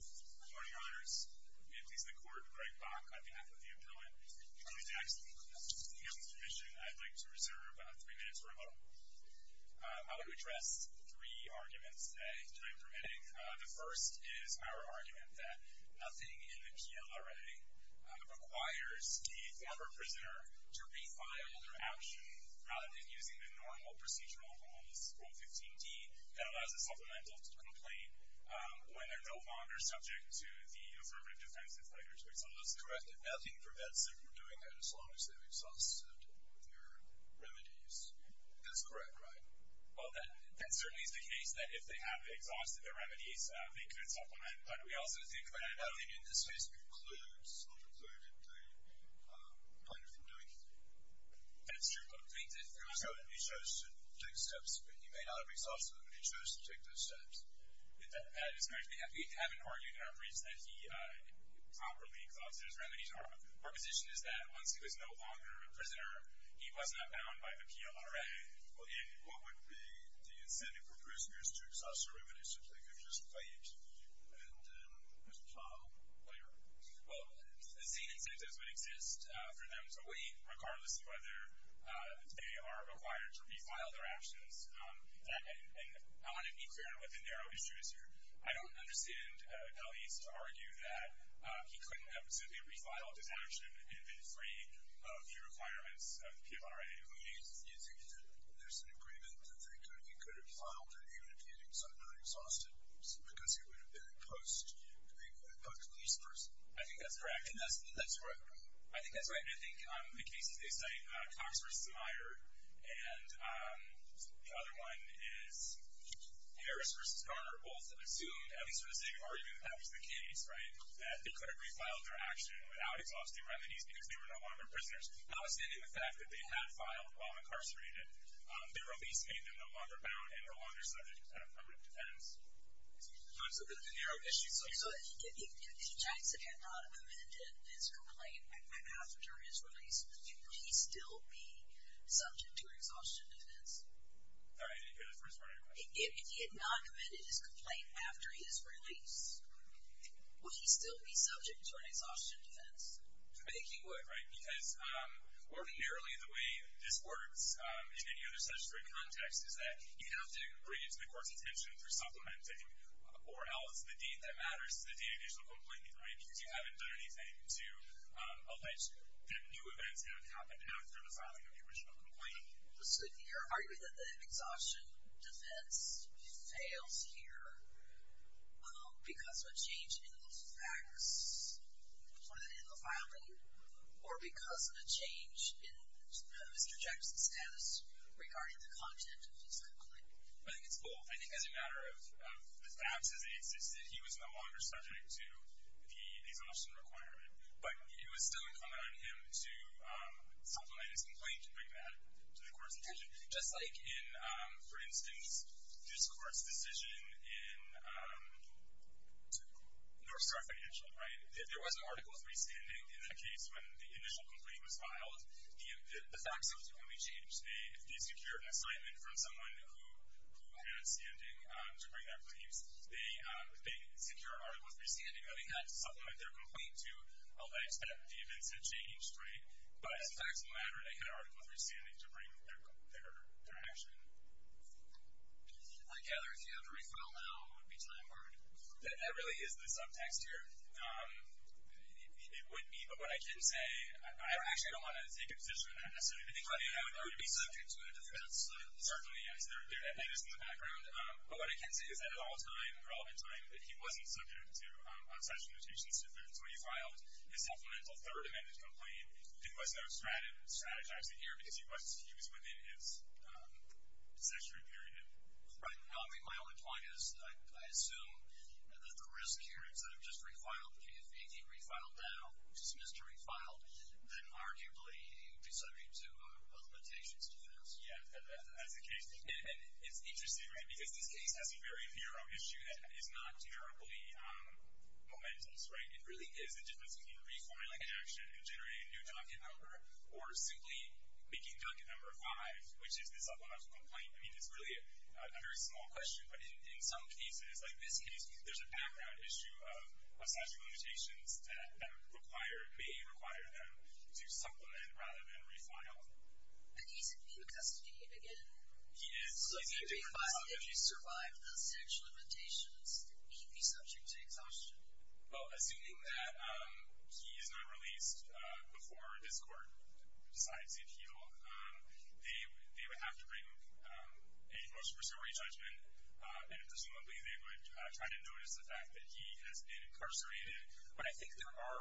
Good morning, honors. It pleases the court, Greg Bach, on behalf of the appellant. I would like to ask for the appellant's permission. I'd like to reserve three minutes for a moment. I would like to address three arguments that I'm permitting. The first is our argument that nothing in the PLRA requires a former prisoner to refile their action rather than using the normal procedural rules, Rule 15d, that allows the supplemental to complain when they're no longer subject to the affirmative defenses that are expected. So that's correct, that nothing prevents them from doing that as long as they've exhausted their remedies. That's correct, right? Well, that certainly is the case, that if they have exhausted their remedies, they could supplement. But we also think that in this case it includes, or included, the plaintiff in doing it. That's true, but we think that if the plaintiff chooses to take steps, he may not have exhausted them, but he chose to take those steps. That is correct. We haven't argued in our briefs that he properly exhausted his remedies. Our position is that once he was no longer a prisoner, he was not bound by the PLRA. What would be the incentive for prisoners to exhaust their remedies if they could just pay it to you? And Mr. Fong, what do you reckon? Well, the same incentives would exist for them to leave, regardless of whether they are required to refile their actions. And I want to be clear on what the narrow issue is here. I don't understand Delia's argument that he couldn't have simply refiled his action and been free of the requirements of the PLRA. You think that there's an agreement that he could have filed their remedies unexhausted because he would have been a post-police person? I think that's correct. That's right. I think that's right. I mean, I think the cases they cite, Cox v. Meyer and the other one is Harris v. Garner, both assumed, at least for the sake of argument, that was the case, right, that they could have refiled their action without exhausting remedies because they were no longer prisoners. Notwithstanding the fact that they had filed while incarcerated, their release made them no longer bound and no longer subject to permanent defendants. So there's a narrow issue. So if D. Jackson had not committed his complaint after his release, would he still be subject to an exhaustion defense? I think that's the first part of your question. If he had not committed his complaint after his release, would he still be subject to an exhaustion defense? I think he would. Right, because ordinarily the way this works in any other statutory context is that you have to agree to the court's intention for supplementing or else the deed that matters to the deed of the original complaint, right, because you haven't done anything to allege that new events have happened after the filing of the original complaint. So you're arguing that the exhaustion defense fails here because of a change in the facts when it was filed, or because of a change in Mr. Jackson's status regarding the content of his complaint? I think it's both. I think as a matter of the facts as they existed, he was no longer subject to the exhaustion requirement, but it was still incumbent on him to supplement his complaint and bring that to the court's attention. Just like in, for instance, this court's decision in North Star Financial, right, if there was an article of freestanding in that case when the initial complaint was filed, the facts of it would be changed. If they secured an assignment from someone who had freestanding to bring that case, they secured an article of freestanding, but they had to supplement their complaint to allege that the events had changed, right? But as facts of the matter, they had an article of freestanding to bring their action. I gather if you have to refile now, it would be time-worn. That really is the subtext here. It would be, but what I can say, I actually don't want to take a position that I would be subject to a defense. Certainly, yes. That is in the background. But what I can say is that at all time, for all the time that he wasn't subject to such limitations, if, for instance, when he filed his supplemental third amendment complaint, it was not strategized in here because he was used within his cessionary period. Right. I mean, my only point is I assume that the risk here is that if just refiled, if he refiled now, dismissed or refiled, then arguably he would be subject to a limitation to the defense. Yes, that's the case. And it's interesting, right, because this case has a very narrow issue that is not terribly momentous, right? It really is the difference between refiling an action and generating a new docket number, or simply making docket number five, which is the subliminal complaint. I mean, it's really a very small question. But in some cases, like this case, there's a background issue of statute of limitations that may require them to supplement rather than refile. And he's in new custody again. He is. So if he refiled, if he survived the statute of limitations, he'd be subject to exhaustion. Well, assuming that he is not released before this court decides to appeal, they would have to bring a motion for summary judgment, and presumably they would try to notice the fact that he has been incarcerated. But I think there are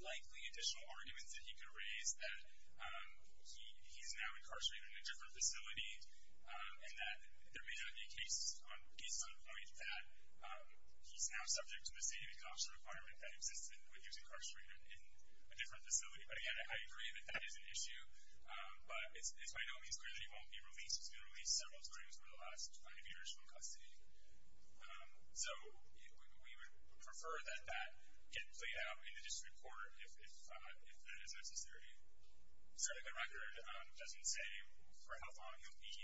likely additional arguments that he could raise that he's now incarcerated in a different facility and that there may not be a case on the point that he's now subject to the same exhaustion requirement that existed when he was incarcerated in a different facility. But, again, I agree that that is an issue. But it's by no means clear that he won't be released. He's been released several times over the last five years from custody. So we would prefer that that get played out in the district court if that is necessary. Certainly the record doesn't say for how long he'll be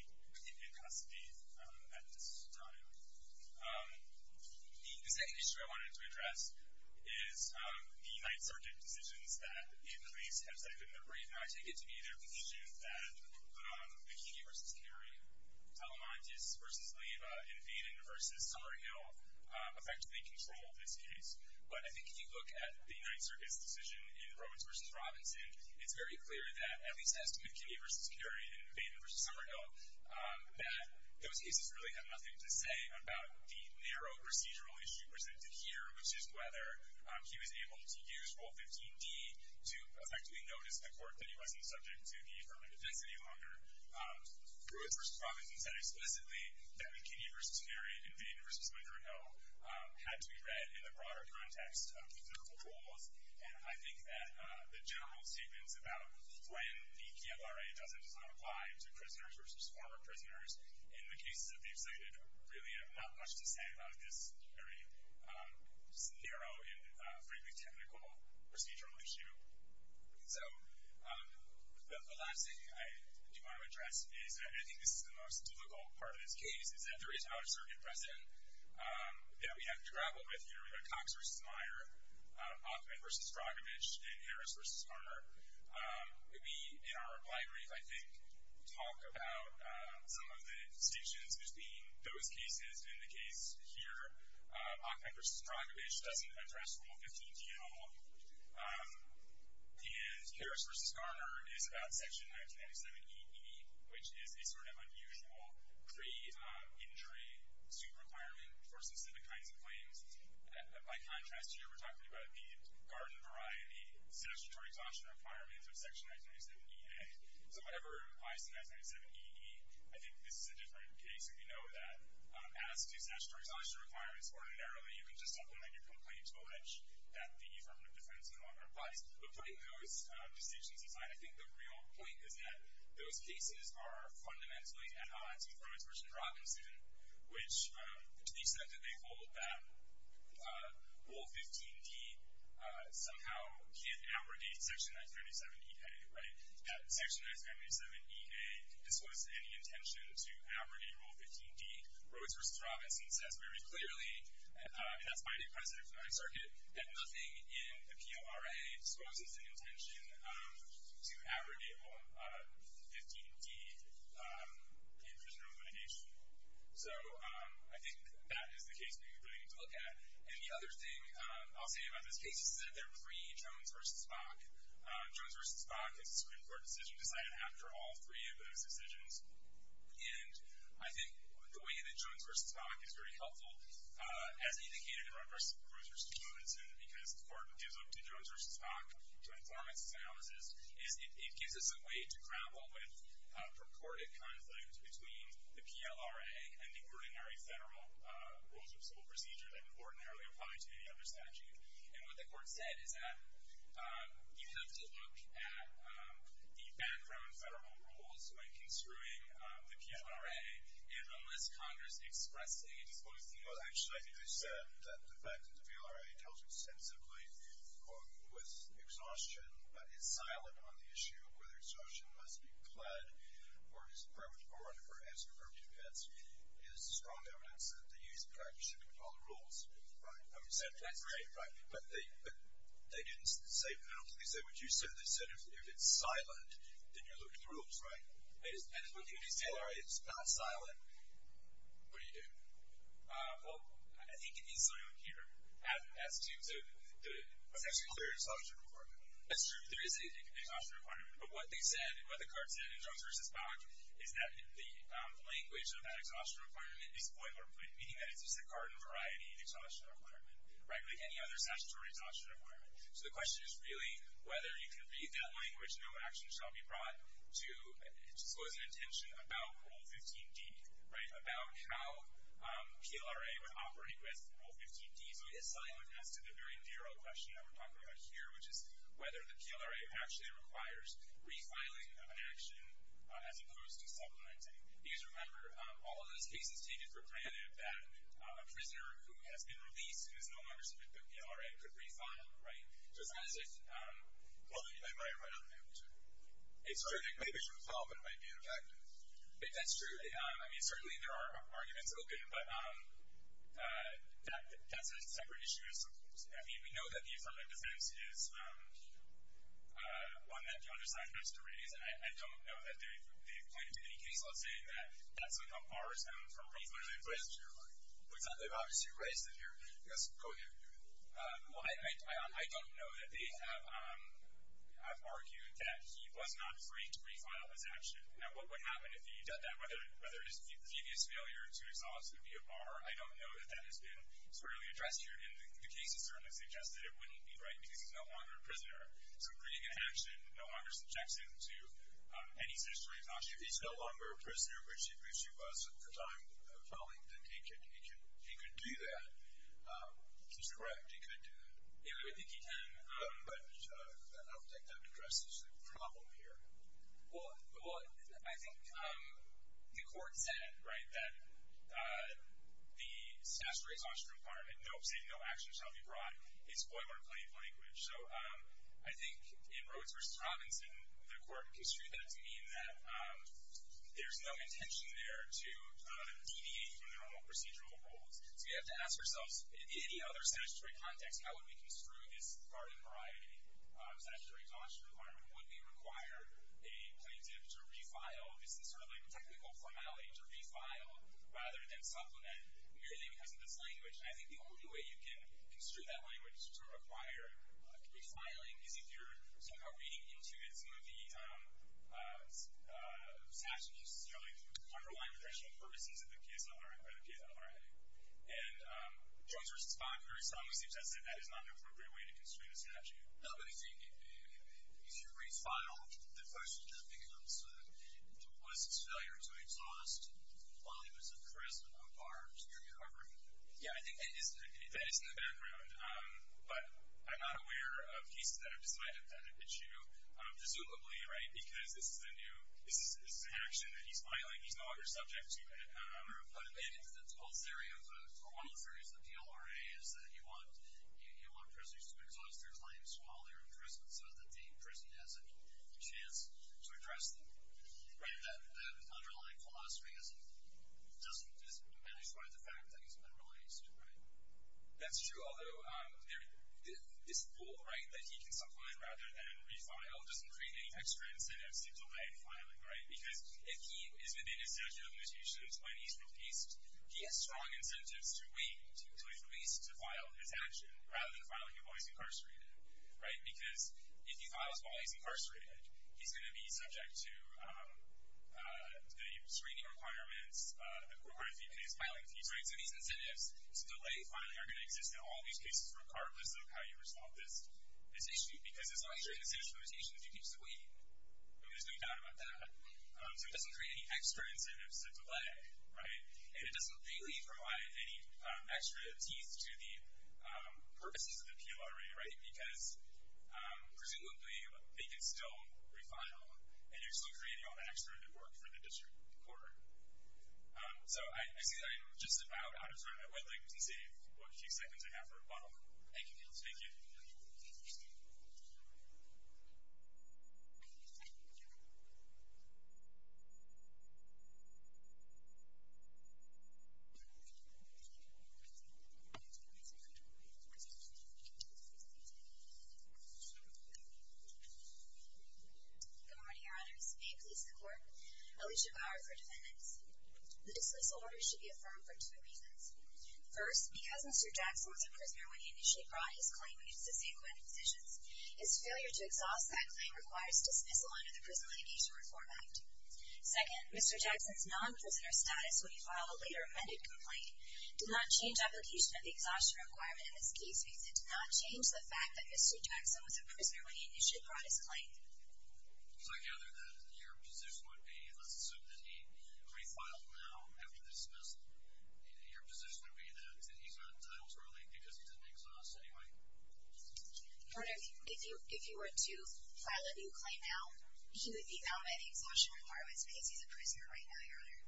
in custody at this time. The second issue I wanted to address is the Ninth Circuit decisions that the police have cited in the brief. And I take it to be their position that McKinney v. Carey, Alamantis v. Leyva, and Vanden v. Summerhill effectively controlled this case. But I think if you look at the Ninth Circuit's decision in Robins v. Robinson, it's very clear that, at least as to McKinney v. Carey and Vanden v. Summerhill, that those cases really have nothing to say about the narrow procedural issue presented here, which is whether he was able to use Rule 15d to effectively notice the court that he wasn't subject to the affirmative test any longer. Robins v. Robinson said explicitly that McKinney v. Carey and Vanden v. Summerhill had to be read in the broader context of the clinical rules. And I think that the general statements about when the PLRA doesn't apply to prisoners versus former prisoners in the cases that they've cited really have not much to say about this very narrow and, frankly, technical procedural issue. So the last thing I do want to address is that I think this is the most difficult part of this case, is that there is not a circuit precedent that we have to grapple with here. We've got Cox v. Meyer, Ockman v. Rogovich, and Harris v. Harner. We, in our reply brief, I think, talk about some of the distinctions between those cases and the case here. Ockman v. Rogovich doesn't address Rule 15d at all. And Harris v. Harner is about Section 1997E-E, which is a sort of unusual pre-injury suit requirement for specific kinds of claims. By contrast, here we're talking about the garden variety statutory exhaustion requirements of Section 1997E-A. So whatever it implies to 1997E-E, I think this is a different case. We know that as to statutory exhaustion requirements, ordinarily you can just supplement your complaint to a ledge that the affirmative defense law implies. But putting those distinctions aside, I think the real point is that those cases are fundamentally at odds with Rovich v. Rogovich's suit, which, to the extent that they hold that Rule 15d somehow can't abrogate Section 1997E-A, right? That Section 1997E-A discloses any intention to abrogate Rule 15d. Rhoades v. Robinson says very clearly, and that's Biden, President of the United States Circuit, that nothing in the P.O.R.A. discloses an intention to abrogate Rule 15d in criminal litigation. So I think that is the case we really need to look at. And the other thing I'll say about this case is that they're pre-Jones v. Spock. Jones v. Spock, it's a Supreme Court decision, decided after all three of those decisions. And I think the way that Jones v. Spock is very helpful, as indicated in Rovich v. Robinson, because the Court gives up to Jones v. Spock, to inform its analysis, is it gives us a way to grapple with purported conflicts between the P.L.R.A. and the ordinary federal rules of civil procedure that ordinarily apply to any other statute. And what the Court said is that you have to look at the background federal rules when construing the P.L.R.A. and unless Congress expresses a disclosing intention... Well, actually, I think they said that the fact that the P.L.R.A. tells us extensively that the Court was in exhaustion, but is silent on the issue of whether exhaustion must be pled or is a permanent, or whatever, is a permanent offense, is strong evidence that the use of practice should be followed rules. Right. That's right. But they didn't say penalties. They said what you said. They said if it's silent, then you're looking at the rules, right? And if what you just said is not silent, what do you do? Well, I think it is silent here. As to the... It's actually clear it's an exhaustion requirement. That's true. There is an exhaustion requirement. But what they said, what the Court said in Jones v. Bach, is that the language of that exhaustion requirement may be spoiler-free, meaning that it's just a garden-variety exhaustion requirement, right, like any other statutory exhaustion requirement. So the question is really whether you can read that language, no action shall be brought to... It just wasn't intention about Rule 15d, right, about how PLRA would operate with Rule 15d. So it's silent as to the very narrow question that we're talking about here, which is whether the PLRA actually requires refiling an action as opposed to supplementing. Because remember, all of those cases take it for granted that a prisoner who has been released who is no longer subject to PLRA could refile, right? So it's not as if... Well, they might, but I don't think they would do it. It's true. They maybe should refile, but it might be ineffective. That's true. I mean, certainly there are arguments open, but that's a separate issue. I mean, we know that the affirmative defense is one that the other side wants to raise, and I don't know that they've pointed to any case that's saying that that somehow borrows them from what they've raised here. Which they've obviously raised it here. Yes, go ahead. Well, I don't know that they have argued that he was not free to refile his action. Now, what would happen if he did that? Whether his previous failure to exonerate would be a bar, I don't know that that has been squarely addressed here. And the case has certainly suggested it wouldn't be, right, because he's no longer a prisoner. So creating an action no longer subjects him to any statutory caution. If he's no longer a prisoner, which he was at the time of filing, then he could do that. Is that correct? He could do that? Yeah, we would think he can. But I don't think that addresses the problem here. Well, I think the court said, right, that the statutory caution requirement, don't say no action shall be brought, is boilerplate language. So I think in Rhodes v. Providence, the court construed that to mean that there's no intention there to deviate from the normal procedural rules. So you have to ask yourselves, in any other statutory context, how would we construe this guardian variety statutory caution requirement? Would we require a plaintiff to refile? Is this sort of like a technical formality, to refile rather than supplement merely because of this language? And I think the only way you can construe that language to require refiling is if you're somehow reading into it some of the statutes, underlying the traditional purposes of the PSLRA, by the PSLRA. And Jones v. Spahn, very strongly seems to have said that is not an appropriate way to construe the statute. No, but if you re-file, the question just becomes, was this failure to exhaust while there was a charisma of arms here covering? Yeah, I think that is in the background. But I'm not aware of cases that have decided that issue, presumably, right, that this is an action that he's filing, he's no longer subject to it. But the whole theory of the PLRA is that you want prisoners to exhaust their claims while they're in prison, so that the prison has a chance to address them. That underlying philosophy doesn't dismanage the fact that he's been released. That's true, although this rule, right, that he can supplement rather than refile doesn't create any extra incentives to delay filing, right? Because if he is within his statute of limitations when he's released, he has strong incentives to wait until he's released to file his action, rather than filing it while he's incarcerated, right? Because if he files while he's incarcerated, he's going to be subject to the screening requirements, or if he is filing fees, right? So these incentives to delay filing are going to exist in all these cases, regardless of how you resolve this issue. Because as long as you're in the statute of limitations, you can just wait. There's no doubt about that. So it doesn't create any extra incentives to delay, right? And it doesn't really provide any extra teeth to the purposes of the PLRA, right? Because presumably, they can still refile, and you're still creating all that extra network for the district court. So I see that I'm just about out of time. I would like to save what few seconds I have for a bubble. Thank you. Thank you. Good morning, your honors. May it please the court. Alicia Bauer for defendants. This disorder should be affirmed for two reasons. First, because Mr. Jackson was a prisoner when he initially brought his claim, and used the same kind of positions. His failure to exhaust that claim requires dismissal under the Prison Litigation Reform Act. Second, Mr. Jackson's non-prisoner status when he filed a later amended complaint did not change application of the exhaustion requirement in this case, means it did not change the fact that Mr. Jackson was a prisoner when he initially brought his claim. Because I gather that your position would be, let's assume that he refiled now after the dismissal. Your position would be that he's not entitled to release because he didn't exhaust anyway? Pardon me. If you were to file a new claim now, he would be bound by the exhaustion requirements because he's a prisoner right now, your honor.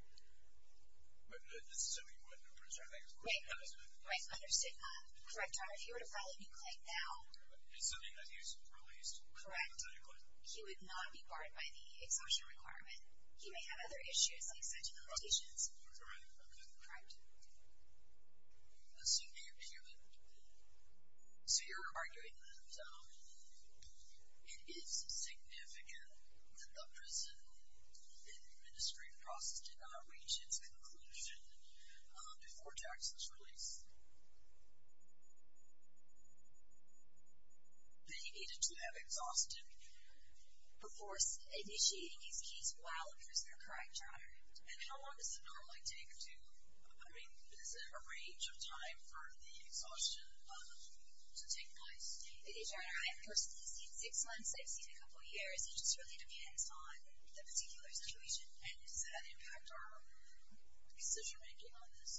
But assuming he wouldn't, I'm pretty sure I think it's correct. Right. Right, understood. Correct, your honor. If you were to file a new claim now. Assuming that he's released. Correct. He would not be barred by the exhaustion requirement. He may have other issues, like sentimentations. Correct. Correct. Correct. Assuming he wouldn't. So you're arguing that it is significant that the prison administrative process did not reach its conclusion before Jackson's release. That he needed to have exhausted before initiating his case while a prisoner, correct, your honor? And how long does it normally take to, I mean, is there a range of time for the exhaustion to take place? Your honor, I have personally seen six months. I've seen a couple years. It just really depends on the particular situation and its impact on our decision making on this.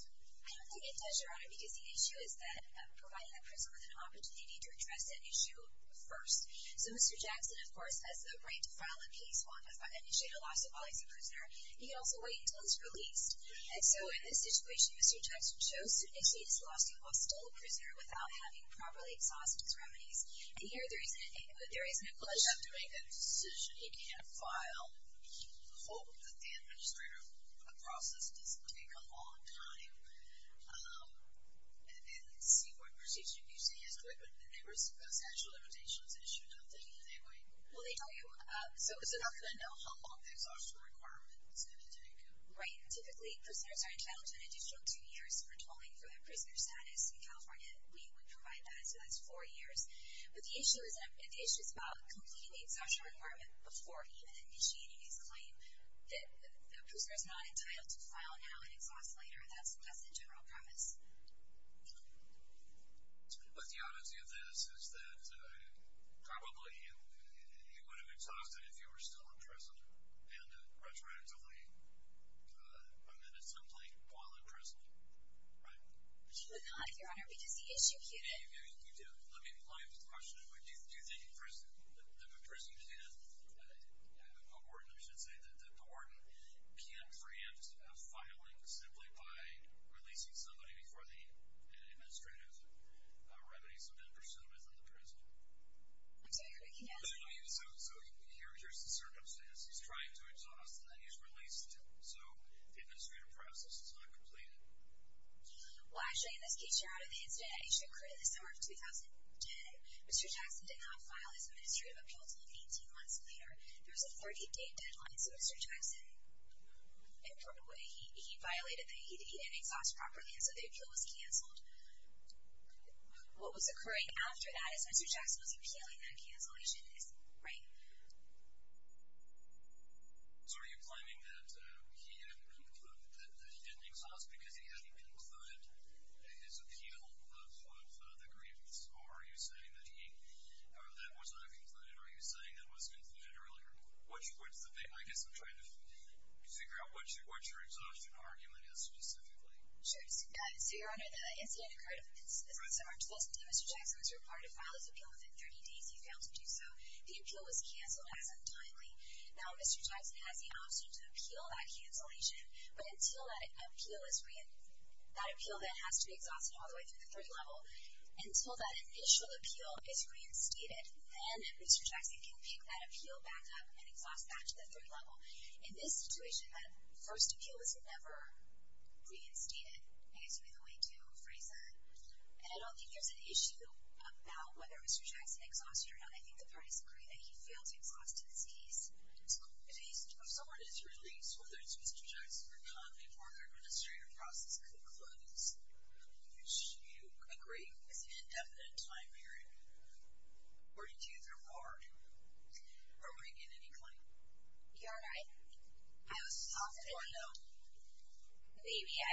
I don't think it does, your honor, because the issue is that providing a prisoner with an opportunity to address that issue first. So Mr. Jackson, of course, has the right to file a case and initiate a lawsuit while he's a prisoner. He can also wait until he's released. And so, in this situation, Mr. Jackson chose to initiate his lawsuit while still a prisoner without having properly exhausted his remedies. And here there is an implication. He doesn't have to make that decision. He can't file, quote, that the administrative process doesn't take a long time. And then see what procedures you can use to answer it. But those actual limitations issue, I'm thinking, are they right? Well, they tell you. So it's not going to know how long the exhaustion requirement is going to take. Right. Typically, prisoners are entitled to an additional two years for tolling for their prisoner status in California. We would provide that. So that's four years. But the issue is about completing the exhaustion requirement before even initiating his claim that the prisoner is not entitled to file now and exhaust later. That's the general premise. But the oddity of this is that probably he would have exhausted it if he were still in prison and retroactively amended something while in prison. Right? He would not, Your Honor, because he executed. Yeah, you do. Let me play with the question. Do you think the prison can, the warden, I should say, the warden can't preempt a filing simply by releasing somebody before the administrative remedies have been pursued within the prison? I'm sorry. Can you answer that? So here's the circumstance. He's trying to exhaust, and then he's released. So the administrative process is not completed. Well, actually, in this case, you're out of the incident that he should have created this summer of 2010. Mr. Jackson did not file his administrative appeal until 18 months later. There was a 30-day deadline. So Mr. Jackson, in a proper way, he violated the ED and exhaust properly. And so the appeal was canceled. What was occurring after that is Mr. Jackson was appealing that cancellation. Right? So are you claiming that he didn't exhaust because he hadn't concluded his appeal of the grievance? Or are you saying that he, or that was not concluded? Are you saying that was concluded earlier? I guess I'm trying to figure out what your exhaustion argument is specifically. Sure. So, Your Honor, the incident occurred in the summer of 2010. Mr. Jackson was required to file his appeal within 30 days. He failed to do so. The appeal was canceled as untimely. Now Mr. Jackson has the option to appeal that cancellation. But until that appeal is reinstated, that appeal that has to be exhausted all the way through the third level, until that initial appeal is reinstated, then Mr. Jackson can pick that appeal back up and exhaust back to the third level. In this situation, that first appeal was never reinstated. I guess would be the way to phrase that. And I don't think there's an issue about whether Mr. Jackson exhausted or not. I think the parties agree that he failed to exhaust his case. It's cool. If someone is released, whether it's Mr. Jackson or not, before the administrative process concludes, should you agree with an indefinite time period or do you think you're barred from bringing in any claim? Your Honor, I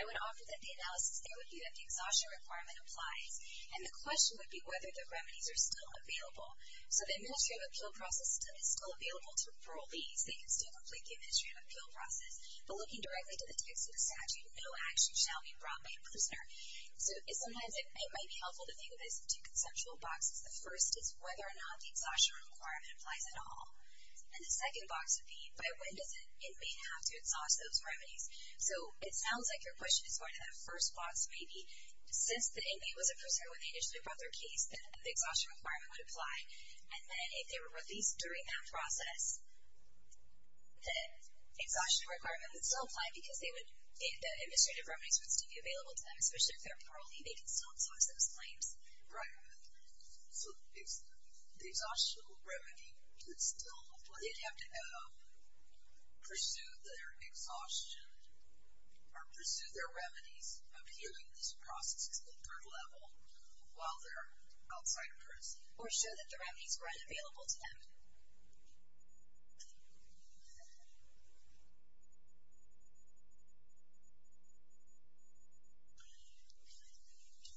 would offer that the analysis there would be that the exhaustion requirement applies. And the question would be whether the remedies are still available. So the administrative appeal process is still available to approve these. They can still complete the administrative appeal process. But looking directly to the text of the statute, no action shall be brought by a prisoner. So sometimes it might be helpful to think of this in two conceptual boxes. The first is whether or not the exhaustion requirement applies at all. And the second box would be by when does an inmate have to exhaust those remedies. So it sounds like your question is going to the first box maybe. Since the inmate was a prisoner when they initially brought their case, the exhaustion requirement would apply. And then if they were released during that process, the exhaustion requirement would still apply because the administrative remedies would still be available to them, especially if they're parolee. They can still exhaust those claims. Right. So the exhaustion remedy could still apply. They'd have to pursue their exhaustion or pursue their remedies appealing this process at the third level while they're outside of prison or show that the remedies weren't available to them.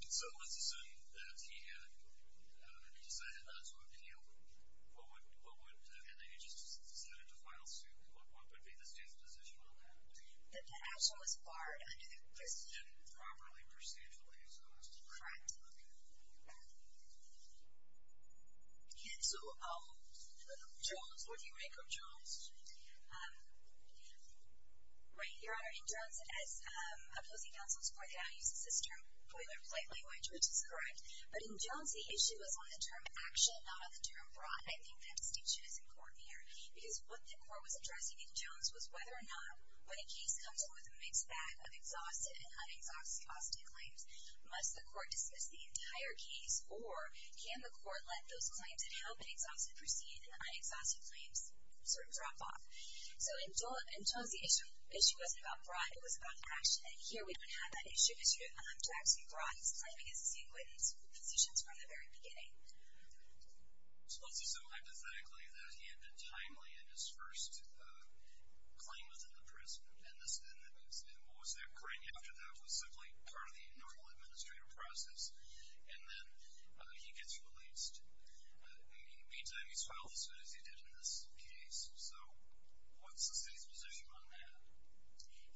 So let's assume that he decided not to appeal. And then he just decided to file suit. What would be the stance position on that? That the action was barred under the prison. Properly, procedurally exhaustive. Correct. And so, Jones, where do you make Jones? Right, Your Honor, in Jones, as opposing counsel has pointed out, he uses this term, polite language, which is correct. But in Jones, the issue is on the term action, not on the term fraud. I think that distinction is important here because what the court was addressing in Jones was whether or not, when a case comes forward that makes that of exhausted and unexhausted claims, must the court dismiss the entire case or can the court let those claims that have been exhausted proceed and the unexhausted claims sort of drop off? So in Jones, the issue wasn't about fraud. It was about action. And here we don't have that issue. The issue of Jackson Fraud He was claiming his state witness positions from the very beginning. So let's assume, hypothetically, that he had been timely in his first claim within the prison. And what was that claim after that was simply part of the normal administrative process. And then he gets released. Meantime, he's filed as soon as he did in this case. So what's the city's position on that?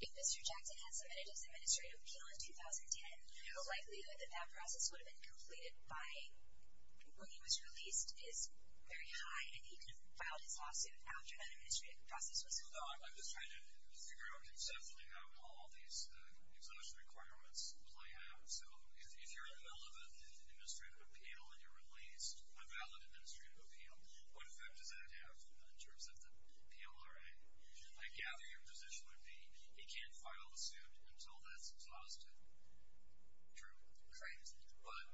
If Mr. Jackson has submitted his administrative appeal in 2010, the likelihood that that process would have been completed by when he was released is very high and he could have filed his lawsuit after that administrative process was completed. I'm just trying to figure out exactly how all these exhaustion requirements play out. So if you're in the middle of an administrative appeal and you're released on valid administrative appeal, what effect does that have in terms of the PLRA? I gather your position would be he can't file a suit until that's exhausted. True. Correct. But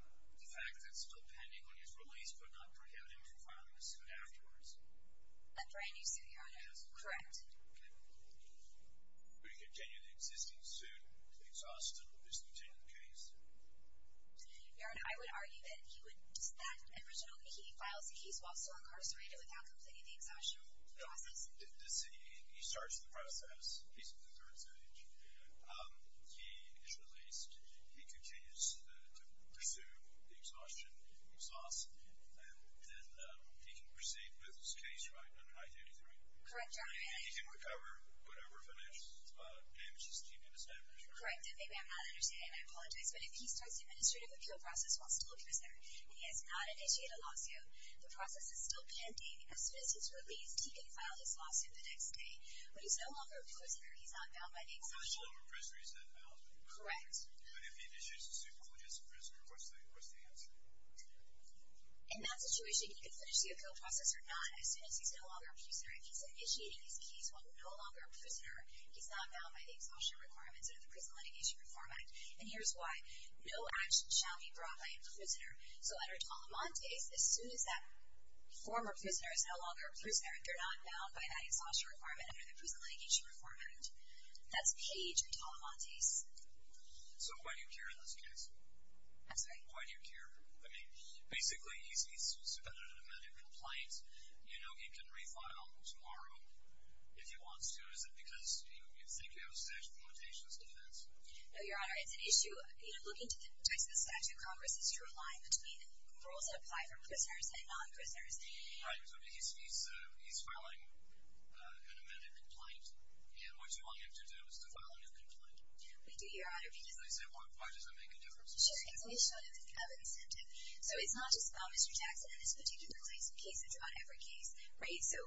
the fact that it's still pending when he's released would not prohibit him from filing a suit afterwards. A brand-new suit, Your Honor. Correct. Okay. Would he continue the existing suit if the exhaustion was contained in the case? Your Honor, I would argue that he would... That original... He files a case while still incarcerated without completing the exhaustion process. Does he... He starts the process, he's in the third stage, he is released, he continues to pursue the exhaustion sauce, then he can proceed with his case, right, under High 33? Correct, Your Honor. He can recover whatever financial damages he may have established, right? Correct. Maybe I'm not understanding, and I apologize, but if he starts the administrative appeal process while still incarcerated and he has not initiated a lawsuit, the process is still pending. As soon as he's released, he can file his lawsuit the next day. When he's no longer a prisoner, he's not bound by the exhaustion... When he's no longer a prisoner, he's not bound? Correct. But if he issues a suit while he's a prisoner, what's the answer? In that situation, he can finish the appeal process or not as soon as he's no longer a prisoner. If he's initiating his case while no longer a prisoner, he's not bound by the exhaustion requirements under the Prison Litigation Reform Act. And here's why. No action shall be brought by a prisoner. So under Talamante, as soon as that former prisoner is no longer a prisoner, they're not bound by that exhaustion requirement under the Prison Litigation Reform Act. That's page Talamante's. So why do you care in this case? I'm sorry? Why do you care? I mean, basically, he's issued a subpoena to demand a complaint. You know, he can refile tomorrow if he wants to. Is it because you think you have a statute of limitations? Is that an answer? No, Your Honor, it's an issue... You know, looking to the statute of Congress, it's a true line between rules that apply for prisoners and non-prisoners. Right. So he's filing an amended complaint, and what you want him to do is to file a new complaint. We do, Your Honor. Because they say, well, why does it make a difference? Sure. It's an issue of incentive. So it's not just about Mr. Jackson in this particular case. It's about every case, right? So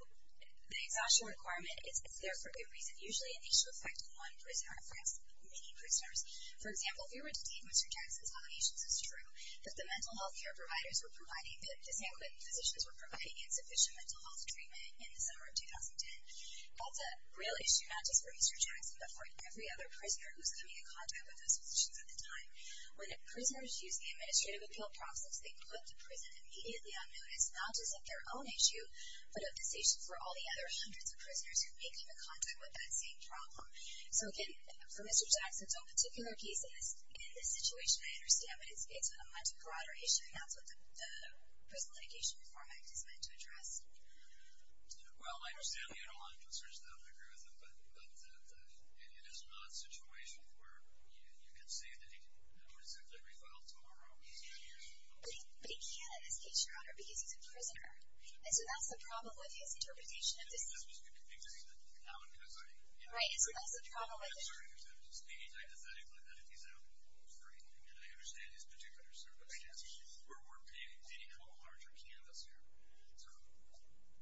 the exhaustion requirement, it's there for a good reason. Usually, it needs to affect one prisoner, perhaps many prisoners. For example, if you were to take Mr. Jackson's allegations, it's true that the mental health care providers were providing, the same way physicians were providing insufficient mental health treatment in the summer of 2010. That's a real issue, not just for Mr. Jackson, but for every other prisoner who's coming in contact with those physicians at the time. When prisoners use the administrative appeal process, they put the prison immediately on notice, not just of their own issue, but of this issue for all the other hundreds of prisoners who may come in contact with that same problem. So again, for Mr. Jackson's own particular case, in this situation, I understand, but it's a much broader issue, and that's what the Prison Litigation Reform Act is meant to address. Well, I understand the underlying concerns of that mechanism, but it is not a situation where you can say that he could, you know, simply be filed tomorrow and spend years in jail. But he can't, in this case, Your Honor, because he's a prisoner. And so that's the problem with his interpretation of this. And that's what's confusing, that now I'm concerning him. Right, and so that's the problem with it. I'm concerning him, because I'm just thinking hypothetically that if he's out, we'll go for him. And I understand his particular circumstance. We're painting a larger canvas here. So...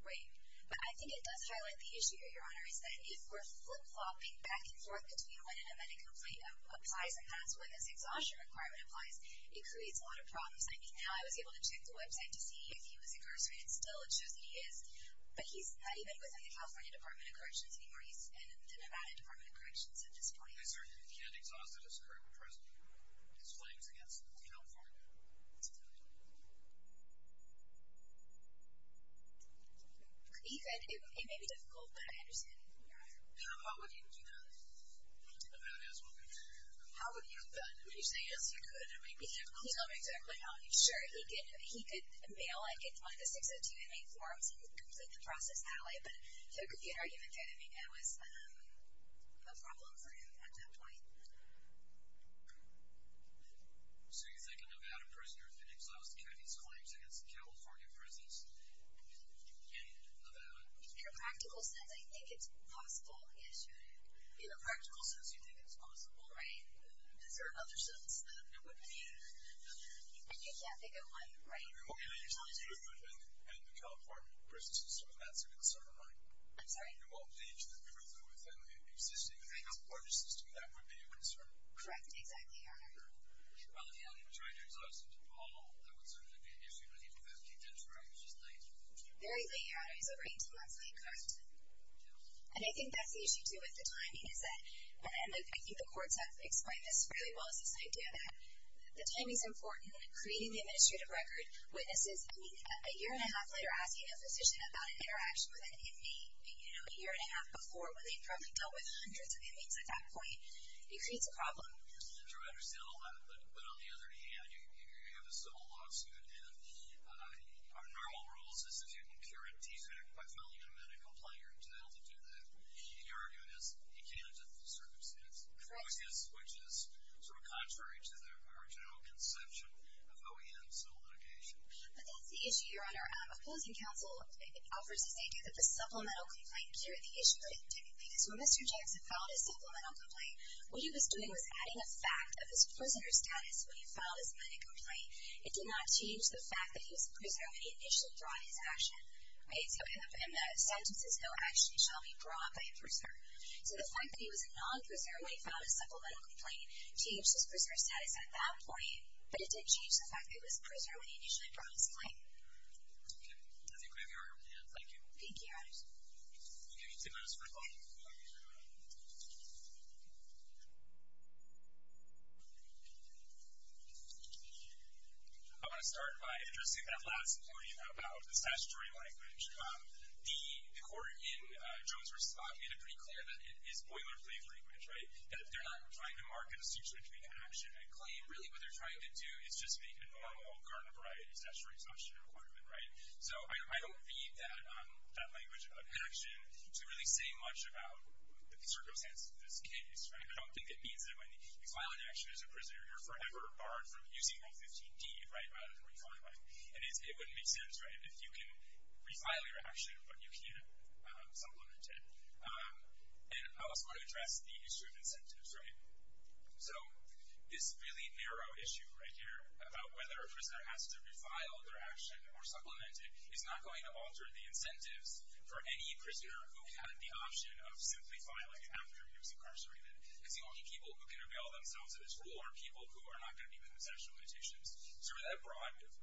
Right, but I think it does highlight the issue here, Your Honor, is that if we're flip-flopping back and forth between when an amended complaint applies and that's when this exhaustion requirement applies, it creates a lot of problems. I mean, now I was able to check the website to see if he was incarcerated still. It shows that he is. But he's not even within the California Department of Corrections anymore. He's in the Nevada Department of Corrections at this point. I certainly can't exhaust his claims against the penal form. He said it may be difficult, but I understand. How would he do that in Nevada as well? How would he have done it? Would he say, yes, he could, or maybe not? He's not exactly sure. He could mail in the 602MA forms and complete the process that way. But if he had argued against anything, it was no problem for him at that point. So you think a Nevada prisoner could exhaust Kennedy's claims against the California prisons in Nevada? In a practical sense, I think it's possible, yes, you're right. In a practical sense, you think it's possible, right? Is there another sense that it wouldn't be? And you can't think of one, right? Okay. And the California prison system, that's a concern, right? I'm sorry? Well, the truth within the existing things, Correct, exactly, Your Honor. Very late, Your Honor. It was over 18 months late, correct? And I think that's the issue, too, with the timing, is that, and I think the courts have explained this really well, is this idea that the timing's important, creating the administrative record, witnesses. I mean, a year and a half later, asking a physician about an interaction with an inmate, you know, a year and a half before where they probably dealt with hundreds of inmates at that point, it creates a problem. True, I understand all that, but on the other hand, you have a civil lawsuit, and our normal rule is that if you can cure a defect, by filing a medical complaint, you're entitled to do that. The argument is, you can't under the circumstances. Correct. Which is sort of contrary to our general conception of OEM civil litigation. But that's the issue, Your Honor. Opposing counsel offers this idea that the supplemental complaint cleared the issue because when Mr. Jackson filed his supplemental complaint, what he was doing was adding a fact of his prisoner status when he filed his medical complaint. It did not change the fact that he was a prisoner when he initially brought his action. And the sentence is, no action shall be brought by a prisoner. So the fact that he was a non-prisoner when he filed his supplemental complaint changed his prisoner status at that point, but it didn't change the fact that he was a prisoner when he initially brought his complaint. Okay, I think we have Your Honor with hands. Thank you. Thank you, Your Honor. I want to start by addressing that last point about the statutory language. The court in Jones v. Spock made it pretty clear that it is boilerplate language, right? That they're not trying to mark a suture between action and claim. Really, what they're trying to do is just make a normal garnet-variety statutory construction requirement, right? So I don't read that language of action to really say much about the circumstances of this case, right? I don't think it means that when you file an action as a prisoner, you're forever barred from using Rule 15d, right, rather than refiling one. And it wouldn't make sense, right, if you can refile your action, but you can't supplement it. And I also want to address the history of incentives, right? So this really narrow issue right here about whether a prisoner has to refile their action or supplement it is not going to alter the incentives for any prisoner who had the option of simply filing after he was incarcerated. Because the only people who can avail themselves of this rule are people who are not going to be concessional petitions. So for that broad group,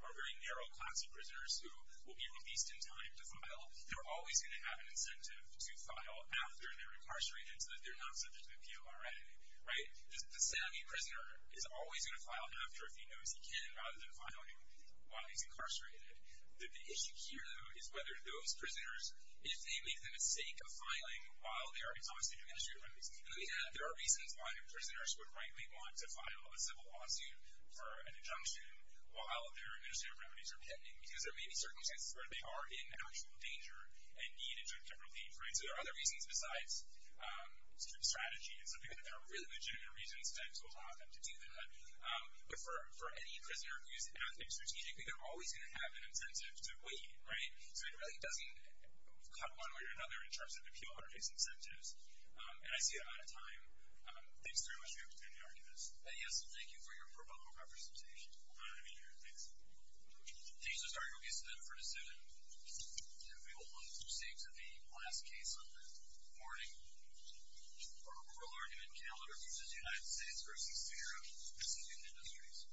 or very narrow class of prisoners who will be released in time to file, they're always going to have an incentive to file after they're incarcerated so that they're not subject to the PRA, right? The savvy prisoner is always going to file after, if he knows he can, rather than filing while he's incarcerated. The issue here, though, is whether those prisoners, if they leave them at stake of filing while they are exonerated from administrative remedies. And let me add, there are reasons why prisoners would rightly want to file a civil lawsuit for an injunction while their administrative remedies are pending. Because there may be circumstances where they are in actual danger and need a judge to repeat, right? So there are other reasons besides strategy. And so there are really legitimate reasons to allow them to do that. But for any prisoner who's acting strategically, they're always going to have an incentive to wait, right? So it really doesn't cut one way or another in terms of the appeal interface incentives. And I see I'm out of time. Thanks very much for your understanding of our case. Yes, and thank you for your pro bono representation. My pleasure. Thanks. Thank you, Mr. Argyle. We have time for a decision. And we will move to the last case on the morning. We'll argue in calendar cases, United States v. CRO, proceeding in this case.